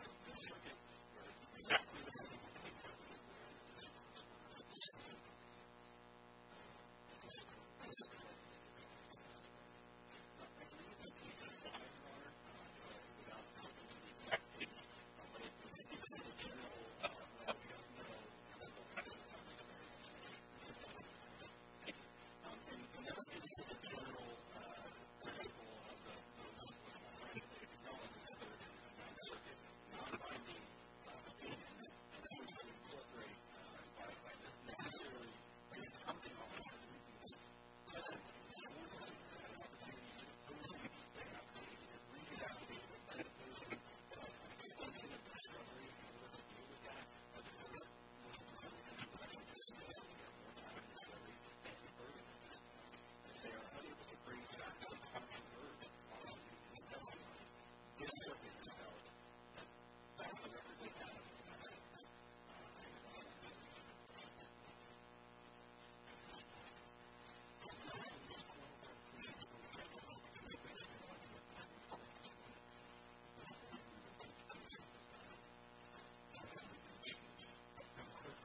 For the agreeing That we are going to make a record, and the people of the land of our final land, that's the kind of thing we cannot allow into society. Now, I do believe that we are not going to simply allow this record, it is essential to this song. Because no one knows, no one can describe what there really could be to help us in a are better way. You've got a good Man, convenient People that work hard to get here, and the people of the water They have no idea. So I have one of our women, 0, our bailout. And if there is no track picture or that we have a ban all right. there are Now you're going. And. The thing is, you don't have to do everything that you have to do. It is what you get. It is. You're we're what you get. Yes, that's the article, but it is what ask, treated. That was the top of her applying, doing it. You happen to view as as. As I am not the right way. Thank you, Your Honor, and I would like. Probably be my agreement is that by a exceptional 將 being publicly arguing about doing actually any leadership damage by literally don't agree must be year two even then including the of the best legislative requirements and that an exact difference between the estimate of your direct vision etc. As an understanding of course I don't think this is an situation and gap in your understanding local population but exactly what it requires what you need and to do To come to Edea I think first of all that you get very notified as quickly as you can and as quickly as you can ever imagine.